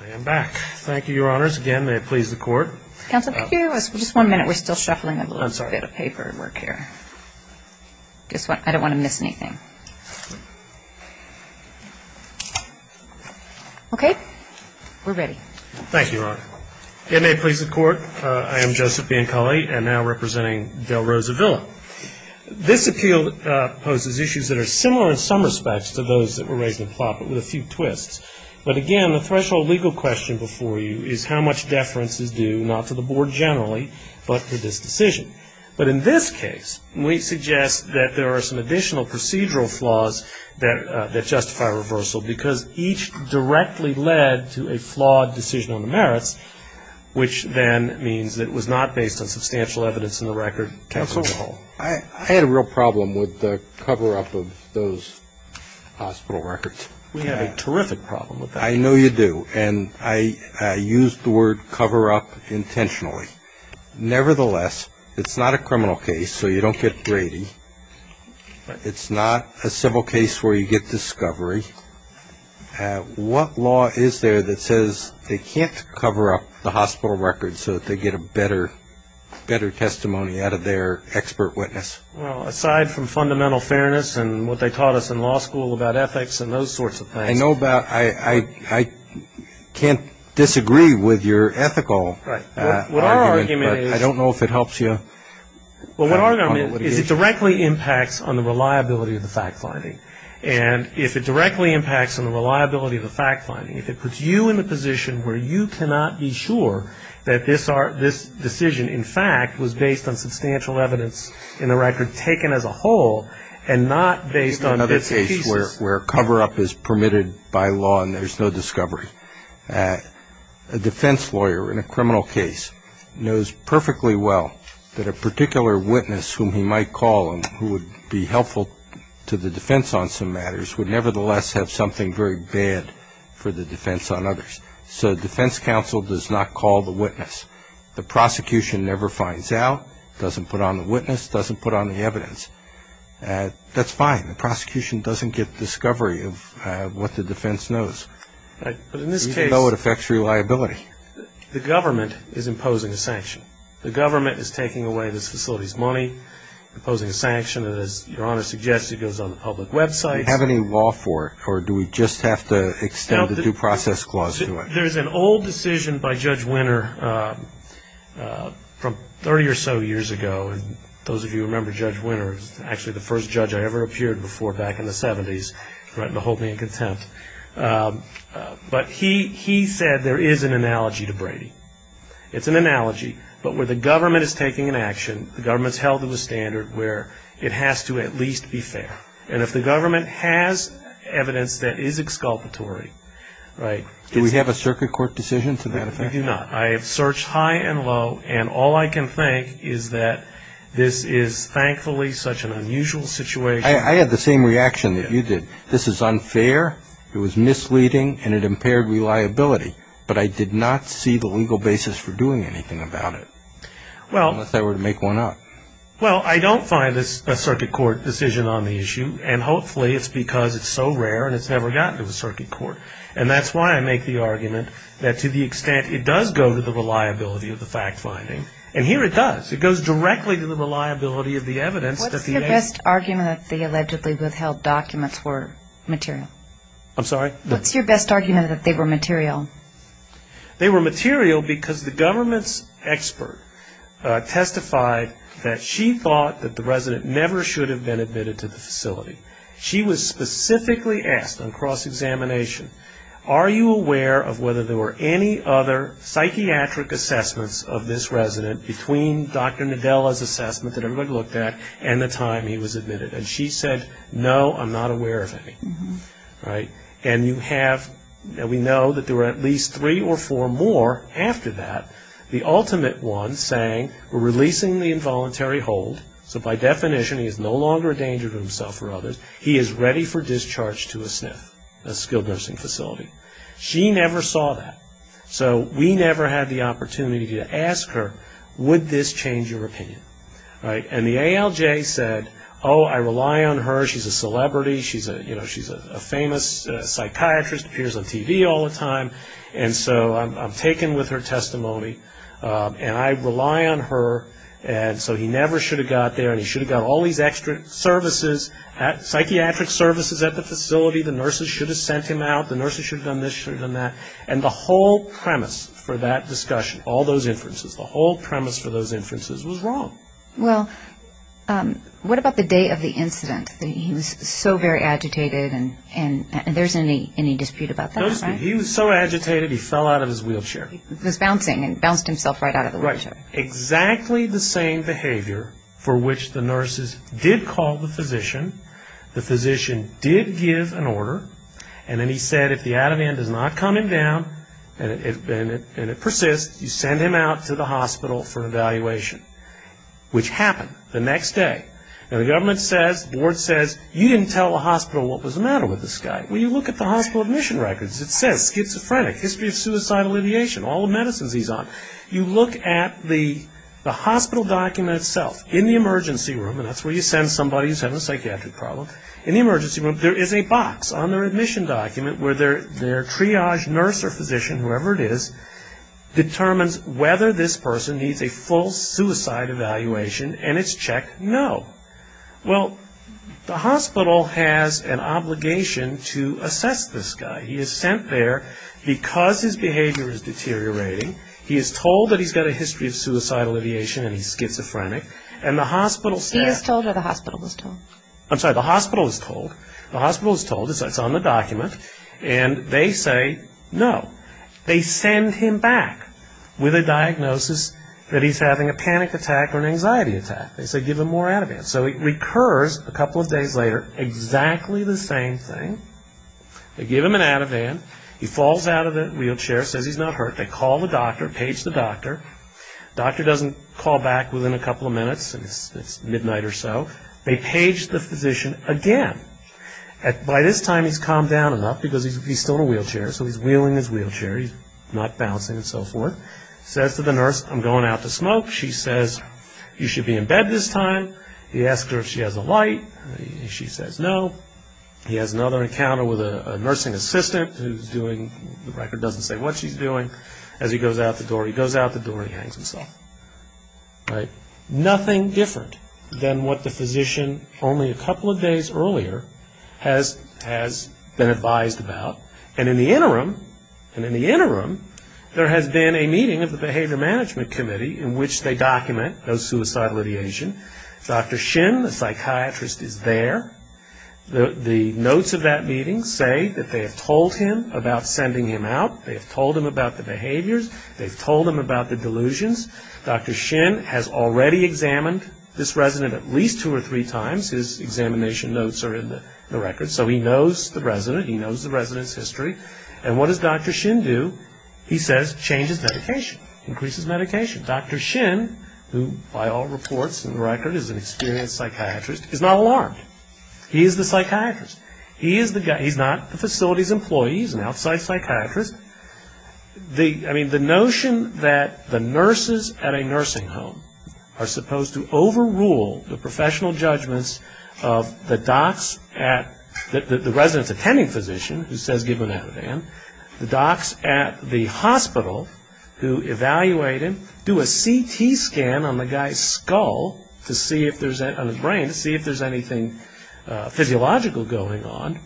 I am back. Thank you, Your Honors. Again, may it please the Court. Counsel, could you give us just one minute? We're still shuffling a little bit of paper work here. I don't want to miss anything. Okay. We're ready. Thank you, Your Honor. Again, may it please the Court, I am Joseph Biancalli, and now representing Del Rosa Villa. This appeal poses issues that are similar in some respects to those that were raised in the plot, but with a few twists. But, again, the threshold legal question before you is how much deference is due not to the Board generally, but to this decision. But in this case, we suggest that there are some additional procedural flaws that justify reversal because each directly led to a flawed decision on the merits, which then means that it was not based on substantial evidence in the record. Counsel? I had a real problem with the cover-up of those hospital records. We have a terrific problem with that. I know you do. And I used the word cover-up intentionally. Nevertheless, it's not a criminal case, so you don't get Brady. It's not a civil case where you get discovery. What law is there that says they can't cover up the hospital records so that they get a better testimony out of their expert witness? Well, aside from fundamental fairness and what they taught us in law school about ethics and those sorts of things. I know about ñ I can't disagree with your ethical argument, but I don't know if it helps you. Well, what our argument is it directly impacts on the reliability of the fact-finding. And if it directly impacts on the reliability of the fact-finding, if it puts you in a position where you cannot be sure that this decision, in fact, was based on substantial evidence in the record taken as a whole and not based on bits and pieces. We have another case where cover-up is permitted by law and there's no discovery. A defense lawyer in a criminal case knows perfectly well that a particular witness whom he might call and who would be helpful to the defense on some matters would nevertheless have something very bad for the defense on others. So defense counsel does not call the witness. The prosecution never finds out, doesn't put on the witness, doesn't put on the evidence. That's fine. The prosecution doesn't get discovery of what the defense knows. Right. But in this case ñ Even though it affects reliability. The government is imposing a sanction. The government is taking away this facility's money, imposing a sanction, and as Your Honor suggests, it goes on the public website. Do we have any law for it or do we just have to extend the due process clause to it? There's an old decision by Judge Winner from 30 or so years ago. And those of you who remember Judge Winner, he was actually the first judge I ever appeared before back in the 70s, right in the whole being contempt. But he said there is an analogy to Brady. It's an analogy, but where the government is taking an action, the government's held to the standard where it has to at least be fair. And if the government has evidence that is exculpatory, right, Do we have a circuit court decision to that effect? We do not. I have searched high and low, and all I can think is that this is thankfully such an unusual situation. I had the same reaction that you did. This is unfair, it was misleading, and it impaired reliability. But I did not see the legal basis for doing anything about it. Unless I were to make one up. Well, I don't find a circuit court decision on the issue, and hopefully it's because it's so rare and it's never gotten to the circuit court. And that's why I make the argument that to the extent it does go to the reliability of the fact-finding, and here it does, it goes directly to the reliability of the evidence. What's your best argument that the allegedly withheld documents were material? I'm sorry? What's your best argument that they were material? They were material because the government's expert testified that she thought that the resident never should have been admitted to the facility. She was specifically asked on cross-examination, are you aware of whether there were any other psychiatric assessments of this resident between Dr. Nadella's assessment that everybody looked at and the time he was admitted? And she said, no, I'm not aware of any. And we know that there were at least three or four more after that. The ultimate one saying, we're releasing the involuntary hold, so by definition he is no longer a danger to himself or others. He is ready for discharge to a SNF, a skilled nursing facility. She never saw that. So we never had the opportunity to ask her, would this change your opinion? And the ALJ said, oh, I rely on her. She's a celebrity. She's a famous psychiatrist, appears on TV all the time. And so I'm taken with her testimony, and I rely on her. And so he never should have got there, and he should have got all these extra services, psychiatric services at the facility. The nurses should have sent him out. The nurses should have done this, should have done that. And the whole premise for that discussion, all those inferences, the whole premise for those inferences was wrong. Well, what about the day of the incident? He was so very agitated, and there's any dispute about that, right? He was so agitated he fell out of his wheelchair. He was bouncing and bounced himself right out of the wheelchair. Exactly the same behavior for which the nurses did call the physician, the physician did give an order, and then he said if the adamant is not coming down and it persists, you send him out to the hospital for an evaluation, which happened the next day. And the government says, the board says, you didn't tell the hospital what was the matter with this guy. Well, you look at the hospital admission records. It says schizophrenic, history of suicidal ideation, all the medicines he's on. You look at the hospital document itself in the emergency room, and that's where you send somebody who's having a psychiatric problem. In the emergency room, there is a box on their admission document where their triage nurse or physician, whoever it is, determines whether this person needs a full suicide evaluation, and it's checked no. Well, the hospital has an obligation to assess this guy. He is sent there because his behavior is deteriorating. He is told that he's got a history of suicidal ideation and he's schizophrenic, and the hospital says- He is told or the hospital is told? I'm sorry, the hospital is told. The hospital is told. It's on the document, and they say no. They send him back with a diagnosis that he's having a panic attack or an anxiety attack. They say give him more adamant. So it recurs a couple of days later, exactly the same thing. They give him an adamant. He falls out of the wheelchair, says he's not hurt. They call the doctor, page the doctor. The doctor doesn't call back within a couple of minutes. It's midnight or so. They page the physician again. By this time, he's calmed down enough because he's still in a wheelchair. So he's wheeling his wheelchair. He's not bouncing and so forth. He says to the nurse, I'm going out to smoke. She says, you should be in bed this time. He asks her if she has a light. She says no. He has another encounter with a nursing assistant who's doing, the record doesn't say what she's doing. As he goes out the door, he goes out the door and he hangs himself. Nothing different than what the physician, only a couple of days earlier, has been advised about. And in the interim, there has been a meeting of the Behavior Management Committee in which they document no suicidal ideation. Dr. Shin, the psychiatrist, is there. The notes of that meeting say that they have told him about sending him out. They have told him about the behaviors. They've told him about the delusions. Dr. Shin has already examined this resident at least two or three times. His examination notes are in the record. So he knows the resident. He knows the resident's history. And what does Dr. Shin do? He says, changes medication, increases medication. Dr. Shin, who by all reports in the record is an experienced psychiatrist, is not alarmed. He is the psychiatrist. He is the guy. He's not the facility's employee. He's an outside psychiatrist. I mean, the notion that the nurses at a nursing home are supposed to overrule the professional judgments of the docs at, the resident's attending physician, who says give him that, the docs at the hospital who evaluate him do a CT scan on the guy's skull to see if there's, on his brain to see if there's anything physiological going on.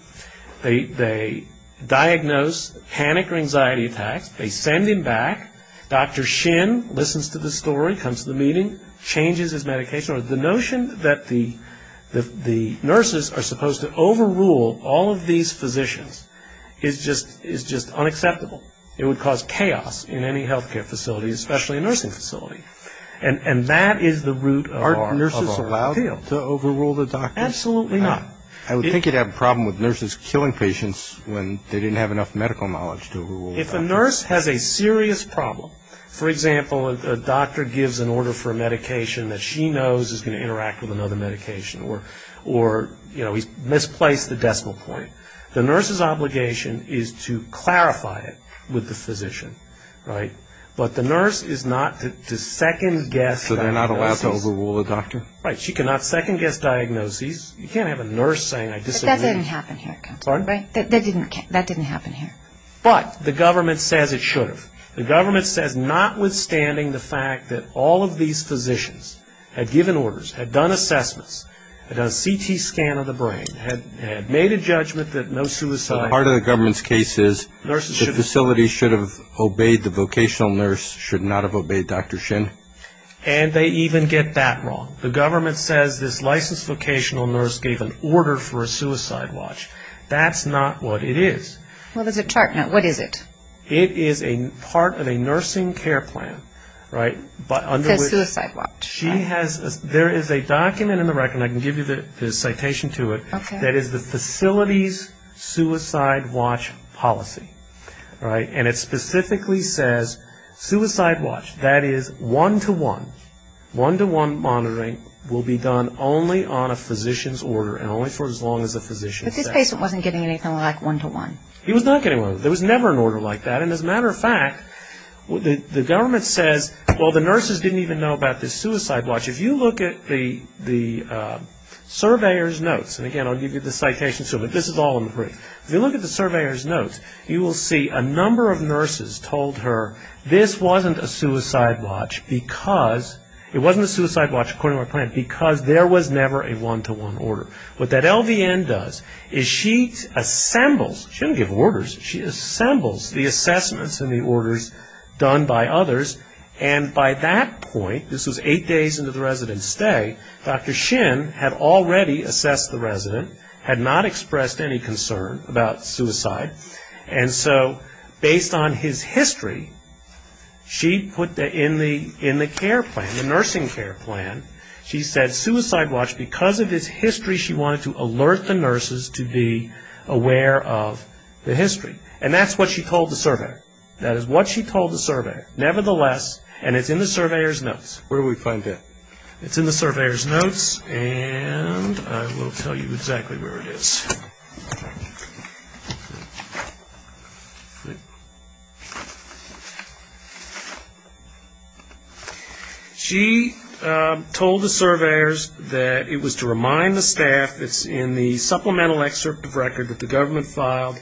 They diagnose panic or anxiety attacks. They send him back. Dr. Shin listens to the story, comes to the meeting, changes his medication. The notion that the nurses are supposed to overrule all of these physicians is just unacceptable. It would cause chaos in any healthcare facility, especially a nursing facility. And that is the root of our appeal. Aren't nurses allowed to overrule the doctors? Absolutely not. I would think you'd have a problem with nurses killing patients when they didn't have enough medical knowledge to overrule doctors. If a nurse has a serious problem, for example, a doctor gives an order for a medication that she knows is going to interact with another medication, or, you know, he's misplaced the decimal point. The nurse's obligation is to clarify it with the physician, right? But the nurse is not to second-guess. So they're not allowed to overrule a doctor? Right. She cannot second-guess diagnoses. You can't have a nurse saying I disagree. But that didn't happen here. Pardon? That didn't happen here. But the government says it should have. The government says notwithstanding the fact that all of these physicians had given orders, had done assessments, had done a CT scan of the brain, had made a judgment that no suicide. Part of the government's case is the facility should have obeyed the vocational nurse, should not have obeyed Dr. Shin. And they even get that wrong. The government says this licensed vocational nurse gave an order for a suicide watch. That's not what it is. Well, there's a chart. Now, what is it? It is a part of a nursing care plan, right? It says suicide watch. There is a document in the record, and I can give you the citation to it, that is the facility's suicide watch policy, right? And it specifically says suicide watch. That is one-to-one. One-to-one monitoring will be done only on a physician's order and only for as long as the physician says. But this patient wasn't getting anything like one-to-one. He was not getting one-to-one. There was never an order like that. And as a matter of fact, the government says, well, the nurses didn't even know about this suicide watch. If you look at the surveyor's notes, and again, I'll give you the citation soon, but this is all in the brief. If you look at the surveyor's notes, you will see a number of nurses told her this wasn't a suicide watch because, it wasn't a suicide watch according to my plan, because there was never a one-to-one order. What that LVN does is she assembles, she doesn't give orders, she assembles the assessments and the orders done by others, and by that point, this was eight days into the resident's stay, Dr. Shin had already assessed the resident, had not expressed any concern about suicide, and so based on his history, she put in the care plan, the nursing care plan, she said suicide watch, because of its history, she wanted to alert the nurses to be aware of the history. And that's what she told the surveyor. That is what she told the surveyor. Nevertheless, and it's in the surveyor's notes. Where do we find that? It's in the surveyor's notes, and I will tell you exactly where it is. All right. She told the surveyors that it was to remind the staff, it's in the supplemental excerpt of record that the government filed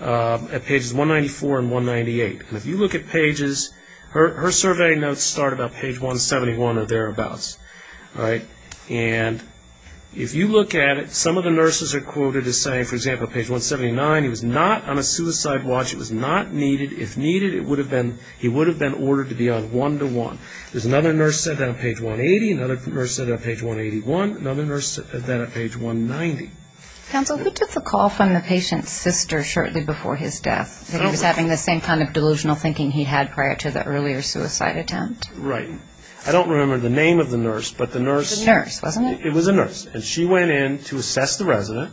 at pages 194 and 198. And if you look at pages, her survey notes start about page 171 or thereabouts, right? And if you look at it, some of the nurses are quoted as saying, for example, page 179, he was not on a suicide watch. It was not needed. If needed, he would have been ordered to be on one-to-one. There's another nurse said that on page 180, another nurse said that on page 181, another nurse said that on page 190. Counsel, who took the call from the patient's sister shortly before his death, that he was having the same kind of delusional thinking he had prior to the earlier suicide attempt? Right. I don't remember the name of the nurse, but the nurse... The nurse, wasn't it? It was a nurse, and she went in to assess the resident.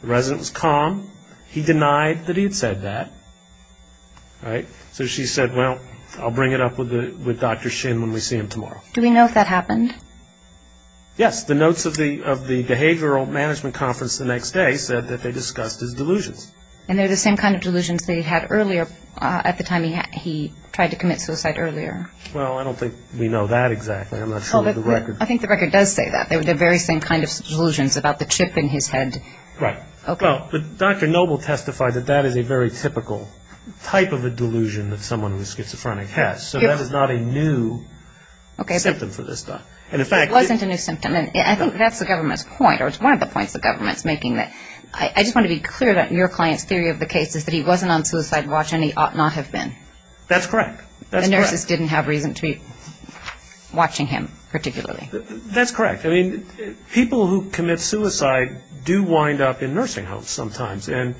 The resident was calm. He denied that he had said that, right? So she said, well, I'll bring it up with Dr. Shin when we see him tomorrow. Do we know if that happened? Yes. The notes of the behavioral management conference the next day said that they discussed his delusions. And they're the same kind of delusions that he had earlier at the time he tried to commit suicide earlier? Well, I don't think we know that exactly. I'm not sure of the record. I think the record does say that. They were the very same kind of delusions about the chip in his head. Right. Well, Dr. Noble testified that that is a very typical type of a delusion that someone with schizophrenia has. So that is not a new symptom for this doctor. Okay. And, in fact... It wasn't a new symptom, and I think that's the government's point, or it's one of the points the government's making. I just want to be clear that your client's theory of the case is that he wasn't on suicide watch, and he ought not have been. That's correct. The nurses didn't have reason to be watching him particularly. That's correct. I mean, people who commit suicide do wind up in nursing homes sometimes. And,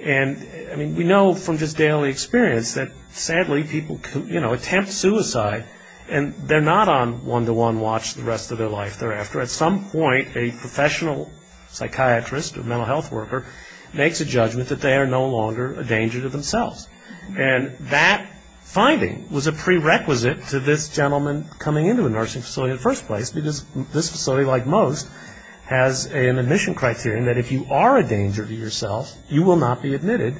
I mean, we know from just daily experience that, sadly, people, you know, attempt suicide, and they're not on one-to-one watch the rest of their life thereafter. At some point, a professional psychiatrist or mental health worker makes a judgment that they are no longer a danger to themselves. And that finding was a prerequisite to this gentleman coming into a nursing facility in the first place because this facility, like most, has an admission criterion that if you are a danger to yourself, you will not be admitted,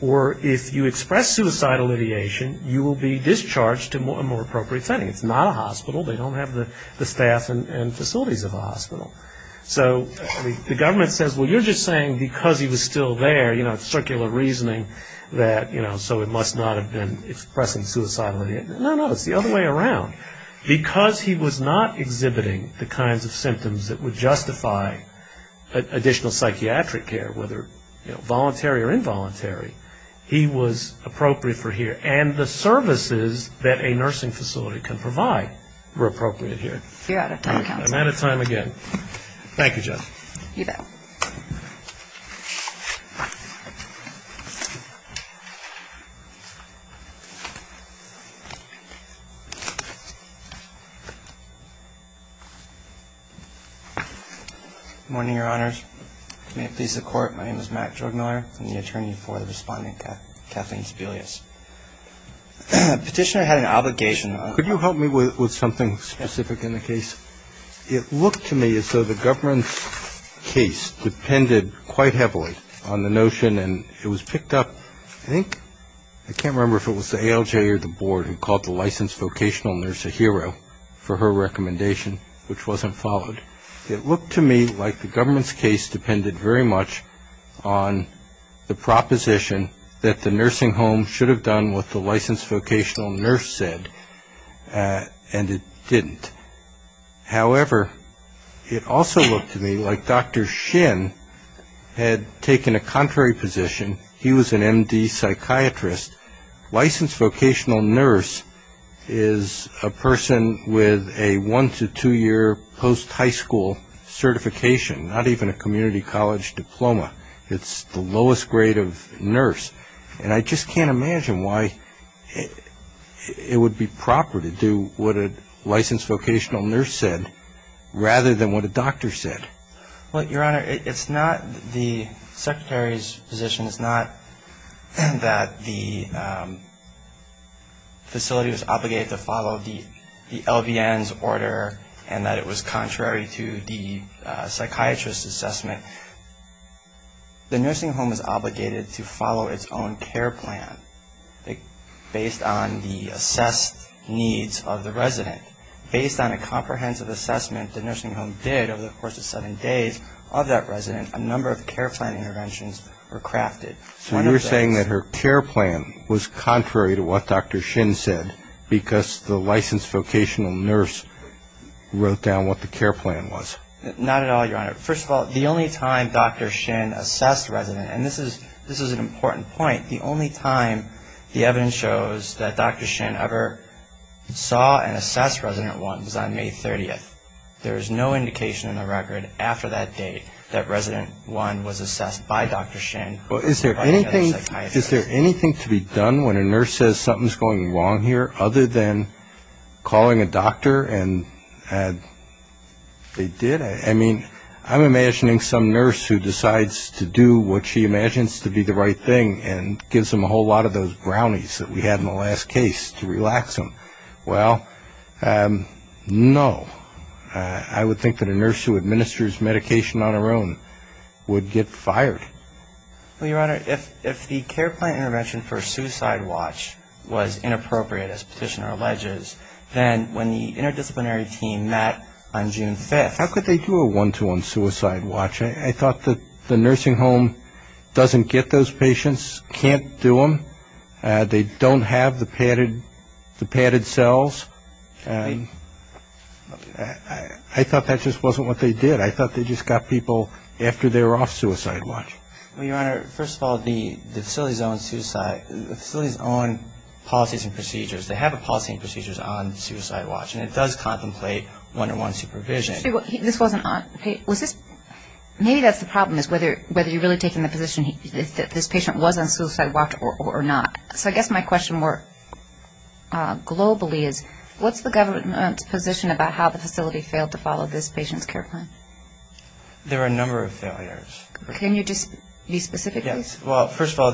or if you express suicidal ideation, you will be discharged to a more appropriate setting. It's not a hospital. They don't have the staff and facilities of a hospital. So the government says, well, you're just saying because he was still there, you know, so he must not have been expressing suicidal ideation. No, no, it's the other way around. Because he was not exhibiting the kinds of symptoms that would justify additional psychiatric care, whether voluntary or involuntary, he was appropriate for here. And the services that a nursing facility can provide were appropriate here. You're out of time, counsel. I'm out of time again. Thank you, Jeff. You bet. Good morning, Your Honors. May it please the Court, my name is Matt Jorgmuller. I'm the attorney for the Respondent Kathleen Sebelius. Petitioner had an obligation. Could you help me with something specific in the case? It looked to me as though the government's case depended quite heavily on the notion and it was picked up, I think, I can't remember if it was the ALJ or the board, and called the licensed vocational nurse a hero for her recommendation, which wasn't followed. It looked to me like the government's case depended very much on the proposition that the nursing home should have done what the licensed vocational nurse said, and it didn't. However, it also looked to me like Dr. Shin had taken a contrary position. He was an MD psychiatrist. Licensed vocational nurse is a person with a one- to two-year post-high school certification, not even a community college diploma. It's the lowest grade of nurse. And I just can't imagine why it would be proper to do what a licensed vocational nurse said rather than what a doctor said. Well, Your Honor, it's not the secretary's position. It's not that the facility was obligated to follow the LVN's order and that it was contrary to the psychiatrist's assessment. The nursing home is obligated to follow its own care plan based on the assessed needs of the resident. Based on a comprehensive assessment the nursing home did over the course of seven days of that resident, a number of care plan interventions were crafted. So you're saying that her care plan was contrary to what Dr. Shin said because the licensed vocational nurse wrote down what the care plan was. Not at all, Your Honor. First of all, the only time Dr. Shin assessed a resident, and this is an important point, the only time the evidence shows that Dr. Shin ever saw and assessed resident one was on May 30th. There is no indication in the record after that date that resident one was assessed by Dr. Shin. Is there anything to be done when a nurse says something's going wrong here other than calling a doctor? And they did. I mean, I'm imagining some nurse who decides to do what she imagines to be the right thing and gives them a whole lot of those brownies that we had in the last case to relax them. Well, no. I would think that a nurse who administers medication on her own would get fired. Well, Your Honor, if the care plan intervention for a suicide watch was inappropriate, as Petitioner alleges, then when the interdisciplinary team met on June 5th. How could they do a one-to-one suicide watch? I thought that the nursing home doesn't get those patients, can't do them. They don't have the padded cells. I thought that just wasn't what they did. I thought they just got people after they were off suicide watch. Well, Your Honor, first of all, the facility's own suicide, the facility's own policies and procedures, they have a policy and procedures on suicide watch, and it does contemplate one-to-one supervision. Maybe that's the problem is whether you're really taking the position that this patient was on suicide watch or not. So I guess my question more globally is, what's the government's position about how the facility failed to follow this patient's care plan? There are a number of failures. Can you just be specific? Well, first of all,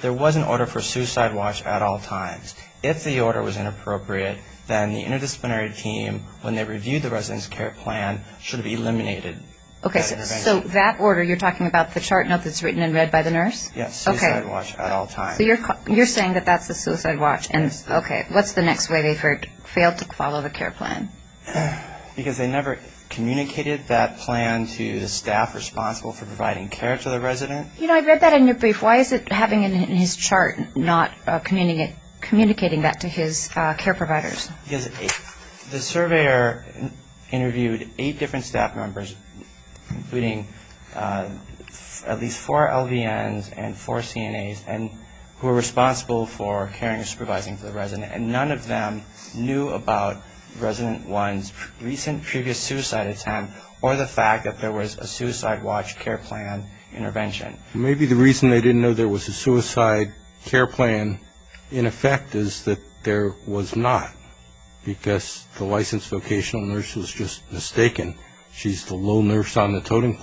there was an order for suicide watch at all times. If the order was inappropriate, then the interdisciplinary team, when they reviewed the resident's care plan, should have eliminated that intervention. Okay, so that order, you're talking about the chart note that's written in red by the nurse? Yes, suicide watch at all times. Okay, so you're saying that that's the suicide watch. Yes. Okay, what's the next way they failed to follow the care plan? Because they never communicated that plan to the staff responsible for providing care to the resident. You know, I read that in your brief. Why is it having it in his chart, not communicating that to his care providers? Because the surveyor interviewed eight different staff members, including at least four LVNs and four CNAs, and none of them knew about resident one's recent previous suicide attempt or the fact that there was a suicide watch care plan intervention. Maybe the reason they didn't know there was a suicide care plan in effect is that there was not, because the licensed vocational nurse was just mistaken. She's the little nurse on the totem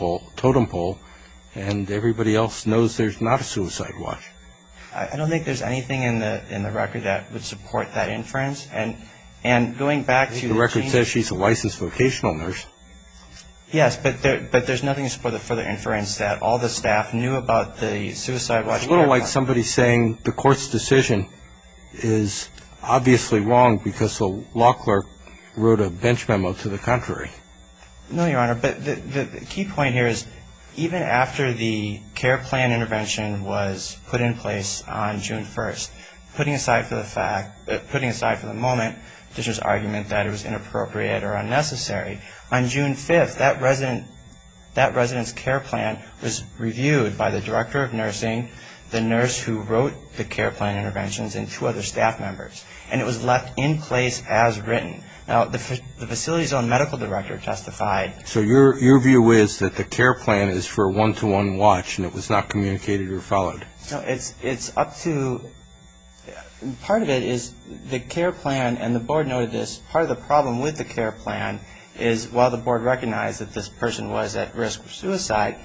pole, and everybody else knows there's not a suicide watch. I don't think there's anything in the record that would support that inference. And going back to the change. The record says she's a licensed vocational nurse. Yes, but there's nothing to support the further inference that all the staff knew about the suicide watch. It's a little like somebody saying the court's decision is obviously wrong because the law clerk wrote a bench memo to the contrary. No, Your Honor. But the key point here is even after the care plan intervention was put in place on June 1st, putting aside for the moment the argument that it was inappropriate or unnecessary, on June 5th that resident's care plan was reviewed by the director of nursing, the nurse who wrote the care plan interventions, and two other staff members. And it was left in place as written. Now, the facility's own medical director testified. So your view is that the care plan is for a one-to-one watch, and it was not communicated or followed. No, it's up to – part of it is the care plan, and the board noted this, part of the problem with the care plan is while the board recognized that this person was at risk of suicide,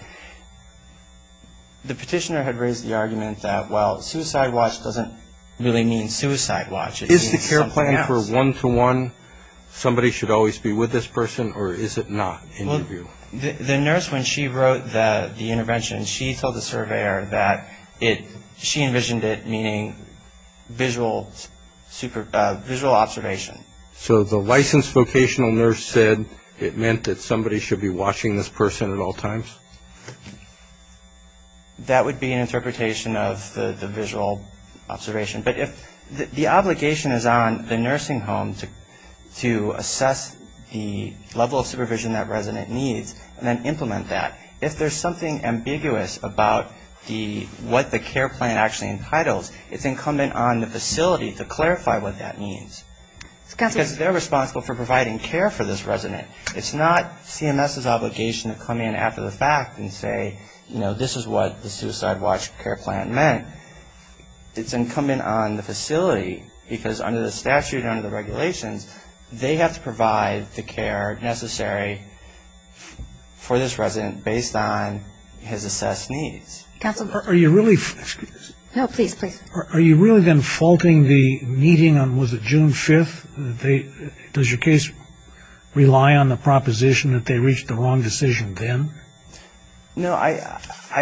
the petitioner had raised the argument that, well, suicide watch doesn't really mean suicide watch. It means something else. Is the care plan for one-to-one, somebody should always be with this person, or is it not in your view? Well, the nurse, when she wrote the intervention, she told the surveyor that she envisioned it meaning visual observation. So the licensed vocational nurse said it meant that somebody should be watching this person at all times? That would be an interpretation of the visual observation. But if the obligation is on the nursing home to assess the level of supervision that resident needs and then implement that, if there's something ambiguous about what the care plan actually entitles, it's incumbent on the facility to clarify what that means. Because they're responsible for providing care for this resident. It's not CMS's obligation to come in after the fact and say, you know, this is what the suicide watch care plan meant. It's incumbent on the facility, because under the statute and under the regulations, they have to provide the care necessary for this resident based on his assessed needs. Are you really then faulting the meeting on, was it June 5th? Does your case rely on the proposition that they reached the wrong decision then? No, I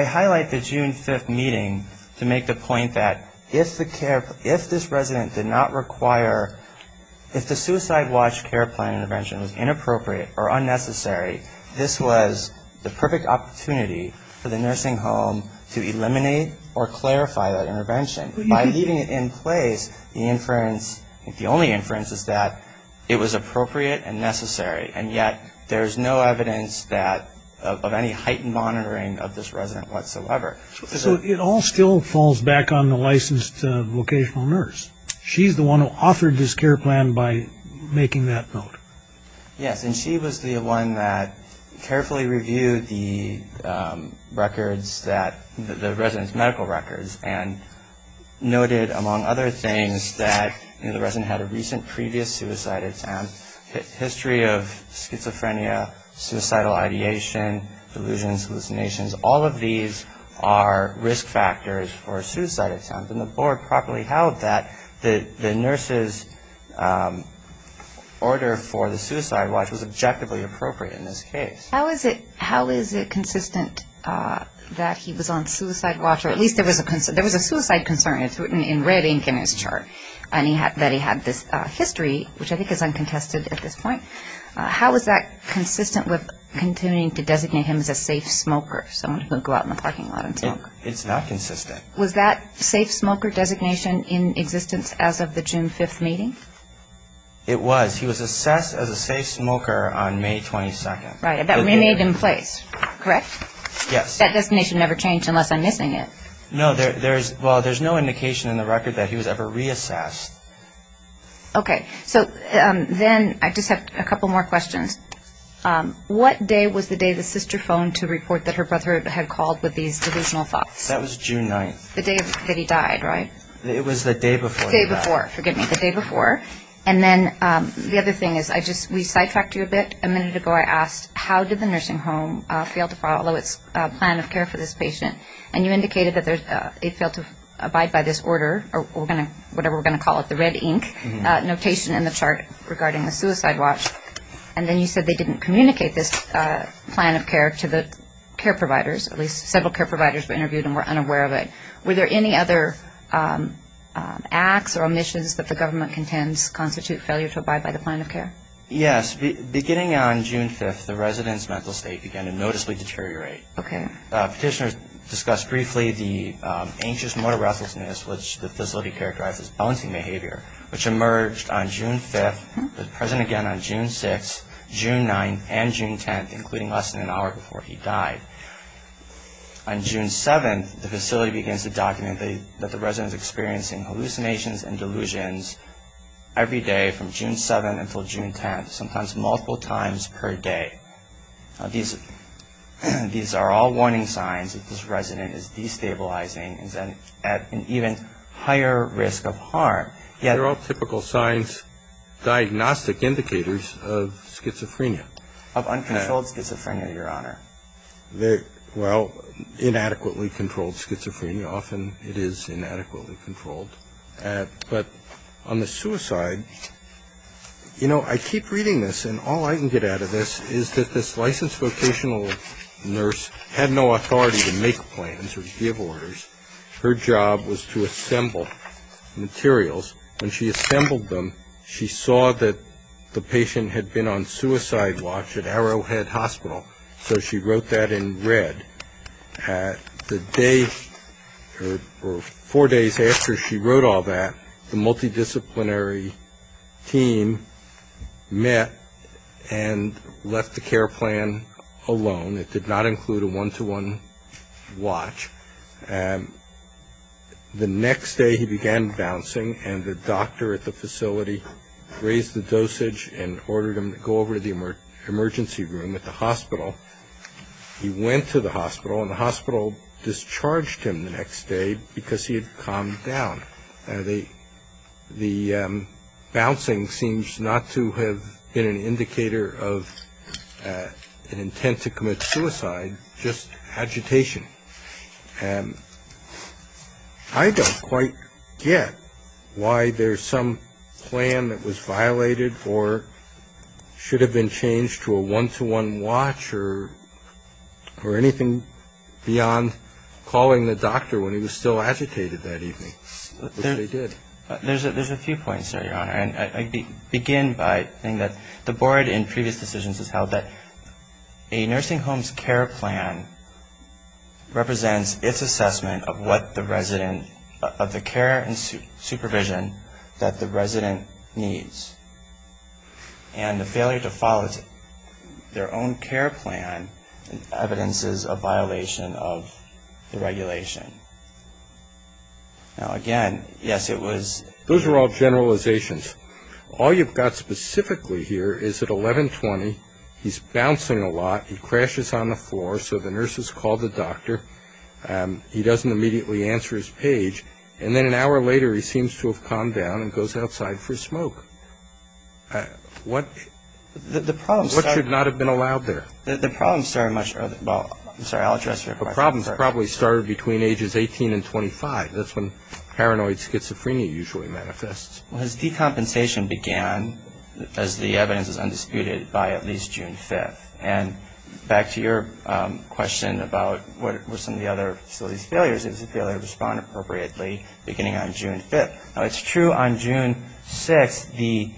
highlight the June 5th meeting to make the point that if this resident did not require, if the suicide watch care plan intervention was inappropriate or unnecessary, this was the perfect opportunity for the nursing home to eliminate or clarify that intervention. By leaving it in place, the inference, the only inference is that it was appropriate and necessary. And yet there's no evidence of any heightened monitoring of this resident whatsoever. So it all still falls back on the licensed vocational nurse. She's the one who authored this care plan by making that note. Yes, and she was the one that carefully reviewed the records that, the resident's medical records, and noted, among other things, that the resident had a recent previous suicide attempt, a history of schizophrenia, suicidal ideation, delusions, hallucinations. All of these are risk factors for a suicide attempt. And the board properly held that the nurse's order for the suicide watch was objectively appropriate in this case. How is it consistent that he was on suicide watch, or at least there was a suicide concern. It's written in red ink in his chart that he had this history, which I think is uncontested at this point. How is that consistent with continuing to designate him as a safe smoker, someone who would go out in the parking lot and smoke? It's not consistent. Was that safe smoker designation in existence as of the June 5th meeting? It was. He was assessed as a safe smoker on May 22nd. Right, and that remained in place, correct? Yes. That designation never changed unless I'm missing it. No, there's no indication in the record that he was ever reassessed. Okay, so then I just have a couple more questions. What day was the day the sister phoned to report that her brother had called with these delusional thoughts? That was June 9th. The day that he died, right? It was the day before he died. The day before, forgive me, the day before. And then the other thing is, we sidetracked you a bit. A minute ago I asked, how did the nursing home fail to follow its plan of care for this patient? And you indicated that they failed to abide by this order, or whatever we're going to call it, the red ink notation in the chart regarding the suicide watch. And then you said they didn't communicate this plan of care to the care providers, at least several care providers were interviewed and were unaware of it. Were there any other acts or omissions that the government contends constitute failure to abide by the plan of care? Yes. Beginning on June 5th, the resident's mental state began to noticeably deteriorate. Okay. Petitioners discussed briefly the anxious motor restlessness, which the facility characterized as bouncing behavior, which emerged on June 5th, was present again on June 6th, June 9th, and June 10th, including less than an hour before he died. On June 7th, the facility begins to document that the resident is experiencing hallucinations and delusions every day from June 7th until June 10th, sometimes multiple times per day. These are all warning signs that this resident is destabilizing and is at an even higher risk of harm. They're all typical signs, diagnostic indicators of schizophrenia. Of uncontrolled schizophrenia, Your Honor. Well, inadequately controlled schizophrenia. Often it is inadequately controlled. But on the suicide, you know, I keep reading this, and all I can get out of this is that this licensed vocational nurse had no authority to make plans or give orders. Her job was to assemble materials. When she assembled them, she saw that the patient had been on suicide watch at Arrowhead Hospital, so she wrote that in red. The day or four days after she wrote all that, the multidisciplinary team met and left the care plan alone. It did not include a one-to-one watch. The next day he began bouncing, and the doctor at the facility raised the dosage and ordered him to go over to the emergency room at the hospital. He went to the hospital, and the hospital discharged him the next day because he had calmed down. The bouncing seems not to have been an indicator of an intent to commit suicide, just agitation. And I don't quite get why there's some plan that was violated or should have been changed to a one-to-one watch or anything beyond calling the doctor when he was still agitated that evening, which they did. There's a few points there, Your Honor. And I begin by saying that the board in previous decisions has held that a nursing home's care plan represents its assessment of what the resident, of the care and supervision that the resident needs. And the failure to follow their own care plan evidences a violation of the regulation. Now, again, yes, it was. Those are all generalizations. All you've got specifically here is at 1120, he's bouncing a lot, he crashes on the floor, so the nurse has called the doctor, he doesn't immediately answer his page, and then an hour later he seems to have calmed down and goes outside for a smoke. What should not have been allowed there? The problem started much earlier. I'm sorry, I'll address your question. The problem probably started between ages 18 and 25. That's when paranoid schizophrenia usually manifests. Well, his decompensation began, as the evidence is undisputed, by at least June 5th. And back to your question about what were some of the other facility's failures, it was a failure to respond appropriately beginning on June 5th. Now, it's true on June 6th the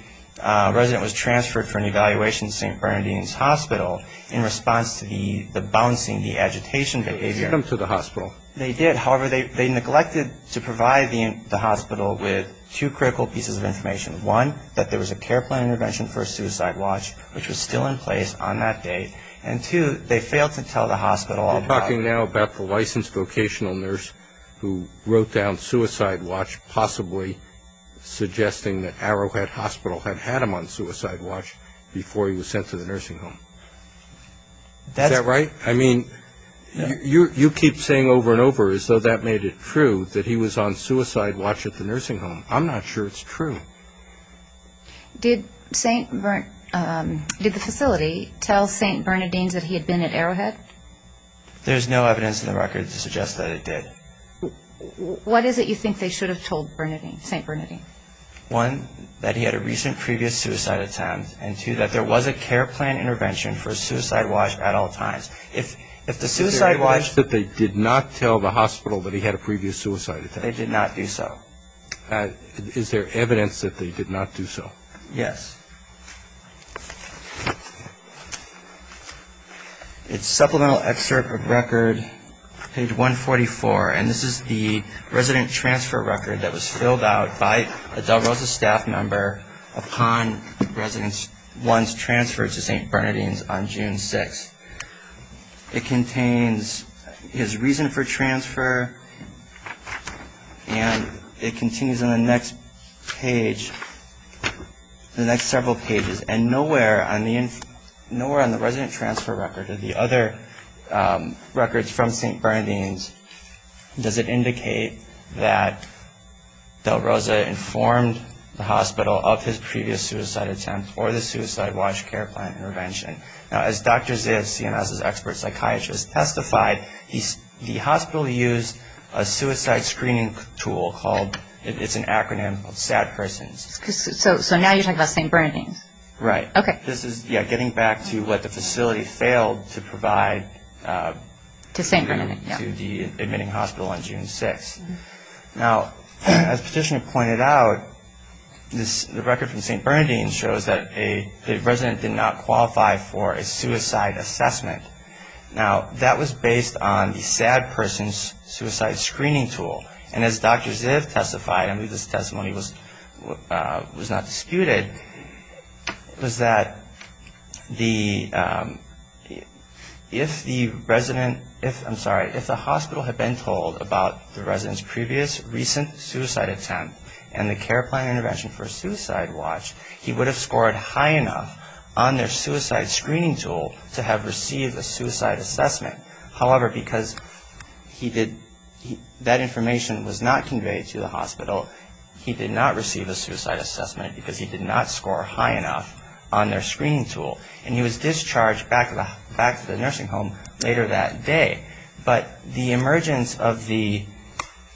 resident was transferred for an evaluation to St. Bernardine's Hospital in response to the bouncing, the agitation behavior. They sent him to the hospital. They did. However, they neglected to provide the hospital with two critical pieces of information. One, that there was a care plan intervention for a suicide watch, which was still in place on that date. And two, they failed to tell the hospital about it. You're talking now about the licensed vocational nurse who wrote down suicide watch, possibly suggesting that Arrowhead Hospital had had him on suicide watch before he was sent to the nursing home. Is that right? I mean, you keep saying over and over as though that made it true that he was on suicide watch at the nursing home. I'm not sure it's true. Did the facility tell St. Bernardine's that he had been at Arrowhead? There's no evidence in the record to suggest that it did. What is it you think they should have told St. Bernardine? One, that he had a recent previous suicide attempt, and two, that there was a care plan intervention for a suicide watch at all times. If the suicide watch – Is there evidence that they did not tell the hospital that he had a previous suicide attempt? They did not do so. Is there evidence that they did not do so? Yes. It's supplemental excerpt of record, page 144, and this is the resident transfer record that was filled out by a Del Rosa staff member upon one's transfer to St. Bernardine's on June 6th. It contains his reason for transfer, and it continues on the next page, the next several pages, and nowhere on the resident transfer record or the other records from St. Bernardine's does it indicate that Del Rosa informed the hospital of his previous suicide attempt or the suicide watch care plan intervention. Now, as Dr. Zayas, CMS's expert psychiatrist, testified, the hospital used a suicide screening tool called – it's an acronym called SAD Persons. So now you're talking about St. Bernardine's. Right. Okay. This is, yeah, getting back to what the facility failed to provide – To St. Bernardine, yeah. – to the admitting hospital on June 6th. Now, as Petitioner pointed out, the record from St. Bernardine's shows that a resident did not qualify for a suicide assessment. Now, that was based on the SAD Persons suicide screening tool, and as Dr. Ziv testified, I believe this testimony was not disputed, was that the – if the resident – I'm sorry. If the hospital had been told about the resident's previous recent suicide attempt and the care plan intervention for a suicide watch, he would have scored high enough on their suicide screening tool to have received a suicide assessment. However, because he did – that information was not conveyed to the hospital, he did not receive a suicide assessment because he did not score high enough on their screening tool, and he was discharged back to the nursing home later that day. But the emergence of the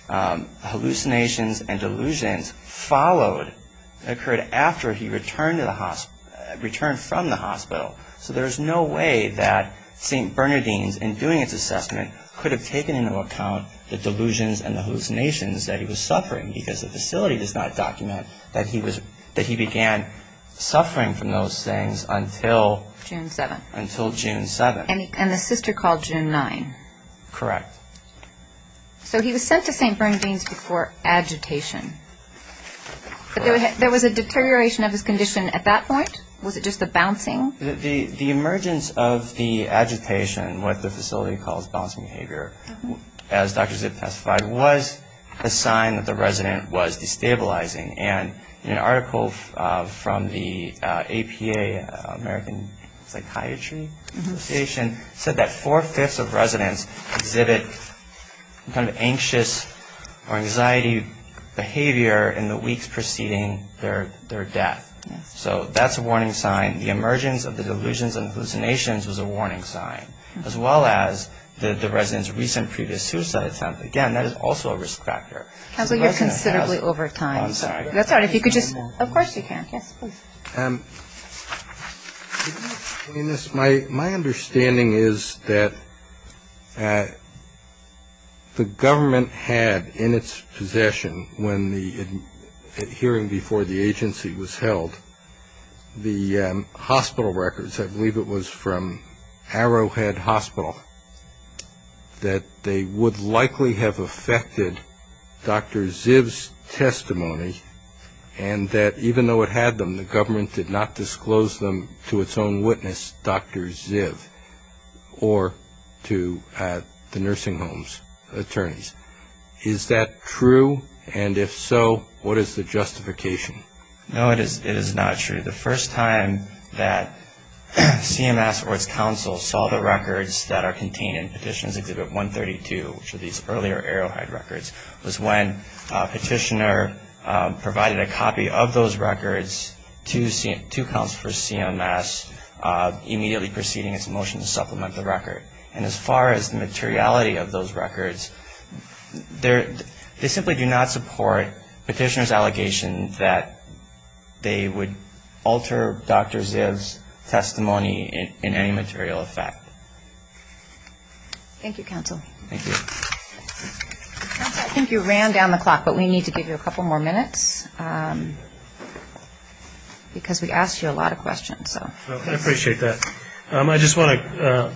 hallucinations and delusions followed – occurred after he returned from the hospital. So there's no way that St. Bernardine's, in doing its assessment, could have taken into account the delusions and the hallucinations that he was suffering because the facility does not document that he was – that he began suffering from those things until –– June 7th. – until June 7th. – And the sister called June 9th. – Correct. – So he was sent to St. Bernardine's for agitation. – Correct. – But there was a deterioration of his condition at that point? Was it just the bouncing? – The emergence of the agitation, what the facility calls bouncing behavior, as Dr. Zipp testified, was a sign that the resident was destabilizing. And an article from the APA, American Psychiatry Association, said that four-fifths of residents exhibit some kind of anxious or anxiety behavior in the weeks preceding their death. So that's a warning sign. The emergence of the delusions and hallucinations was a warning sign, as well as the resident's recent previous suicide attempt. Again, that is also a risk factor. – Counselor, you're considerably over time. – I'm sorry. – That's all right. If you could just – of course you can. Yes, please. – My understanding is that the government had in its possession, when the hearing before the agency was held, the hospital records – I believe it was from Arrowhead Hospital – that they would likely have affected Dr. Zipp's testimony, and that even though it had them, the government did not disclose them to its own witness, Dr. Zipp, or to the nursing home's attorneys. Is that true? And if so, what is the justification? – No, it is not true. The first time that CMS or its counsel saw the records that are contained in Petitions Exhibit 132, which are these earlier Arrowhead records, was when a petitioner provided a copy of those records to counsel for CMS immediately preceding its motion to supplement the record. And as far as the materiality of those records, they simply do not support the petitioner's allegation that they would alter Dr. Zipp's testimony in any material effect. – Thank you, Counsel. – Counsel, I think you ran down the clock, but we need to give you a couple more minutes because we asked you a lot of questions. – I appreciate that. I just want to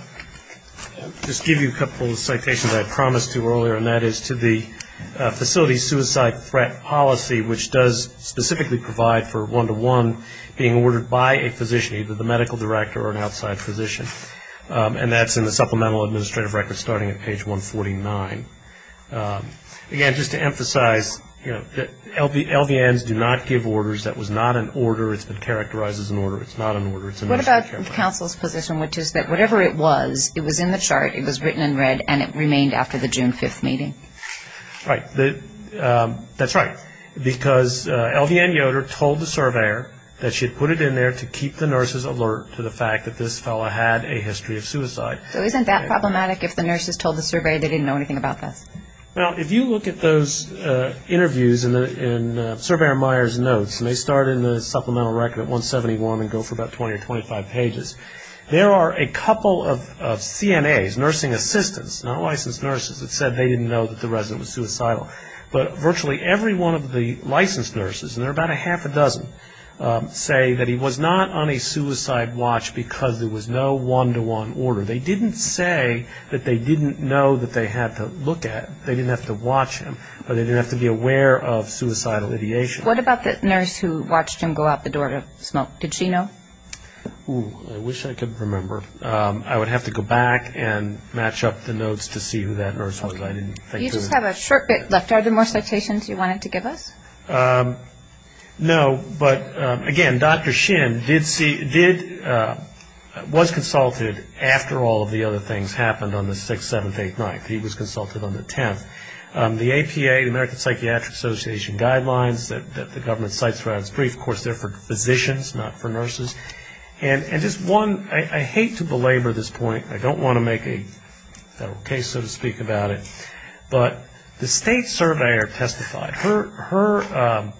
give you a couple of citations I promised you earlier, and that is to the facility suicide threat policy, which does specifically provide for one-to-one being ordered by a physician, either the medical director or an outside physician, and that's in the supplemental administrative record starting at page 149. Again, just to emphasize, LVNs do not give orders. That was not an order. It's been characterized as an order. It's not an order. – What about counsel's position, which is that whatever it was, it was in the chart, it was written in red, and it remained after the June 5th meeting? – Right. That's right, because LVN Yoder told the surveyor that she had put it in there to keep the nurses alert to the fact that this fellow had a history of suicide. – So isn't that problematic if the nurses told the surveyor they didn't know anything about this? – Well, if you look at those interviews in Surveyor Meyer's notes, and they start in the supplemental record at 171 and go for about 20 or 25 pages, there are a couple of CNAs, nursing assistants, not licensed nurses, that said they didn't know that the resident was suicidal. But virtually every one of the licensed nurses, and there are about a half a dozen, say that he was not on a suicide watch because there was no one-to-one order. They didn't say that they didn't know that they had to look at, they didn't have to watch him, or they didn't have to be aware of suicidal ideation. – What about the nurse who watched him go out the door to smoke? Did she know? – Ooh, I wish I could remember. I would have to go back and match up the notes to see who that nurse was. – Okay. You just have a short bit left. Are there more citations you wanted to give us? – No, but again, Dr. Shin was consulted after all of the other things happened on the 6th, 7th, 8th, 9th. He was consulted on the 10th. The APA, the American Psychiatric Association guidelines that the government cites throughout its brief, of course, they're for physicians, not for nurses. And just one, I hate to belabor this point, I don't want to make a federal case, so to speak, about it, but the state surveyor testified. Her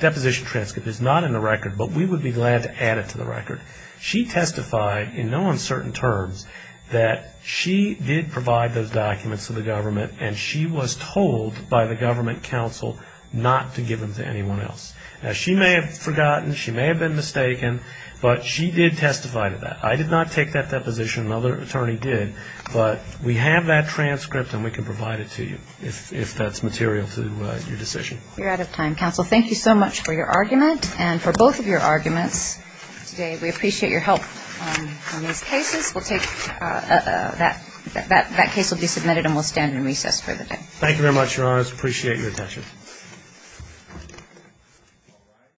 deposition transcript is not in the record, but we would be glad to add it to the record. She testified in no uncertain terms that she did provide those documents to the government and she was told by the government counsel not to give them to anyone else. Now, she may have forgotten, she may have been mistaken, but she did testify to that. I did not take that deposition, another attorney did. But we have that transcript and we can provide it to you if that's material to your decision. – You're out of time. Counsel, thank you so much for your argument and for both of your arguments today. We appreciate your help on these cases. We'll take that case will be submitted and we'll stand in recess for the day. – Thank you very much, Your Honors. Appreciate your attention. – Thank you.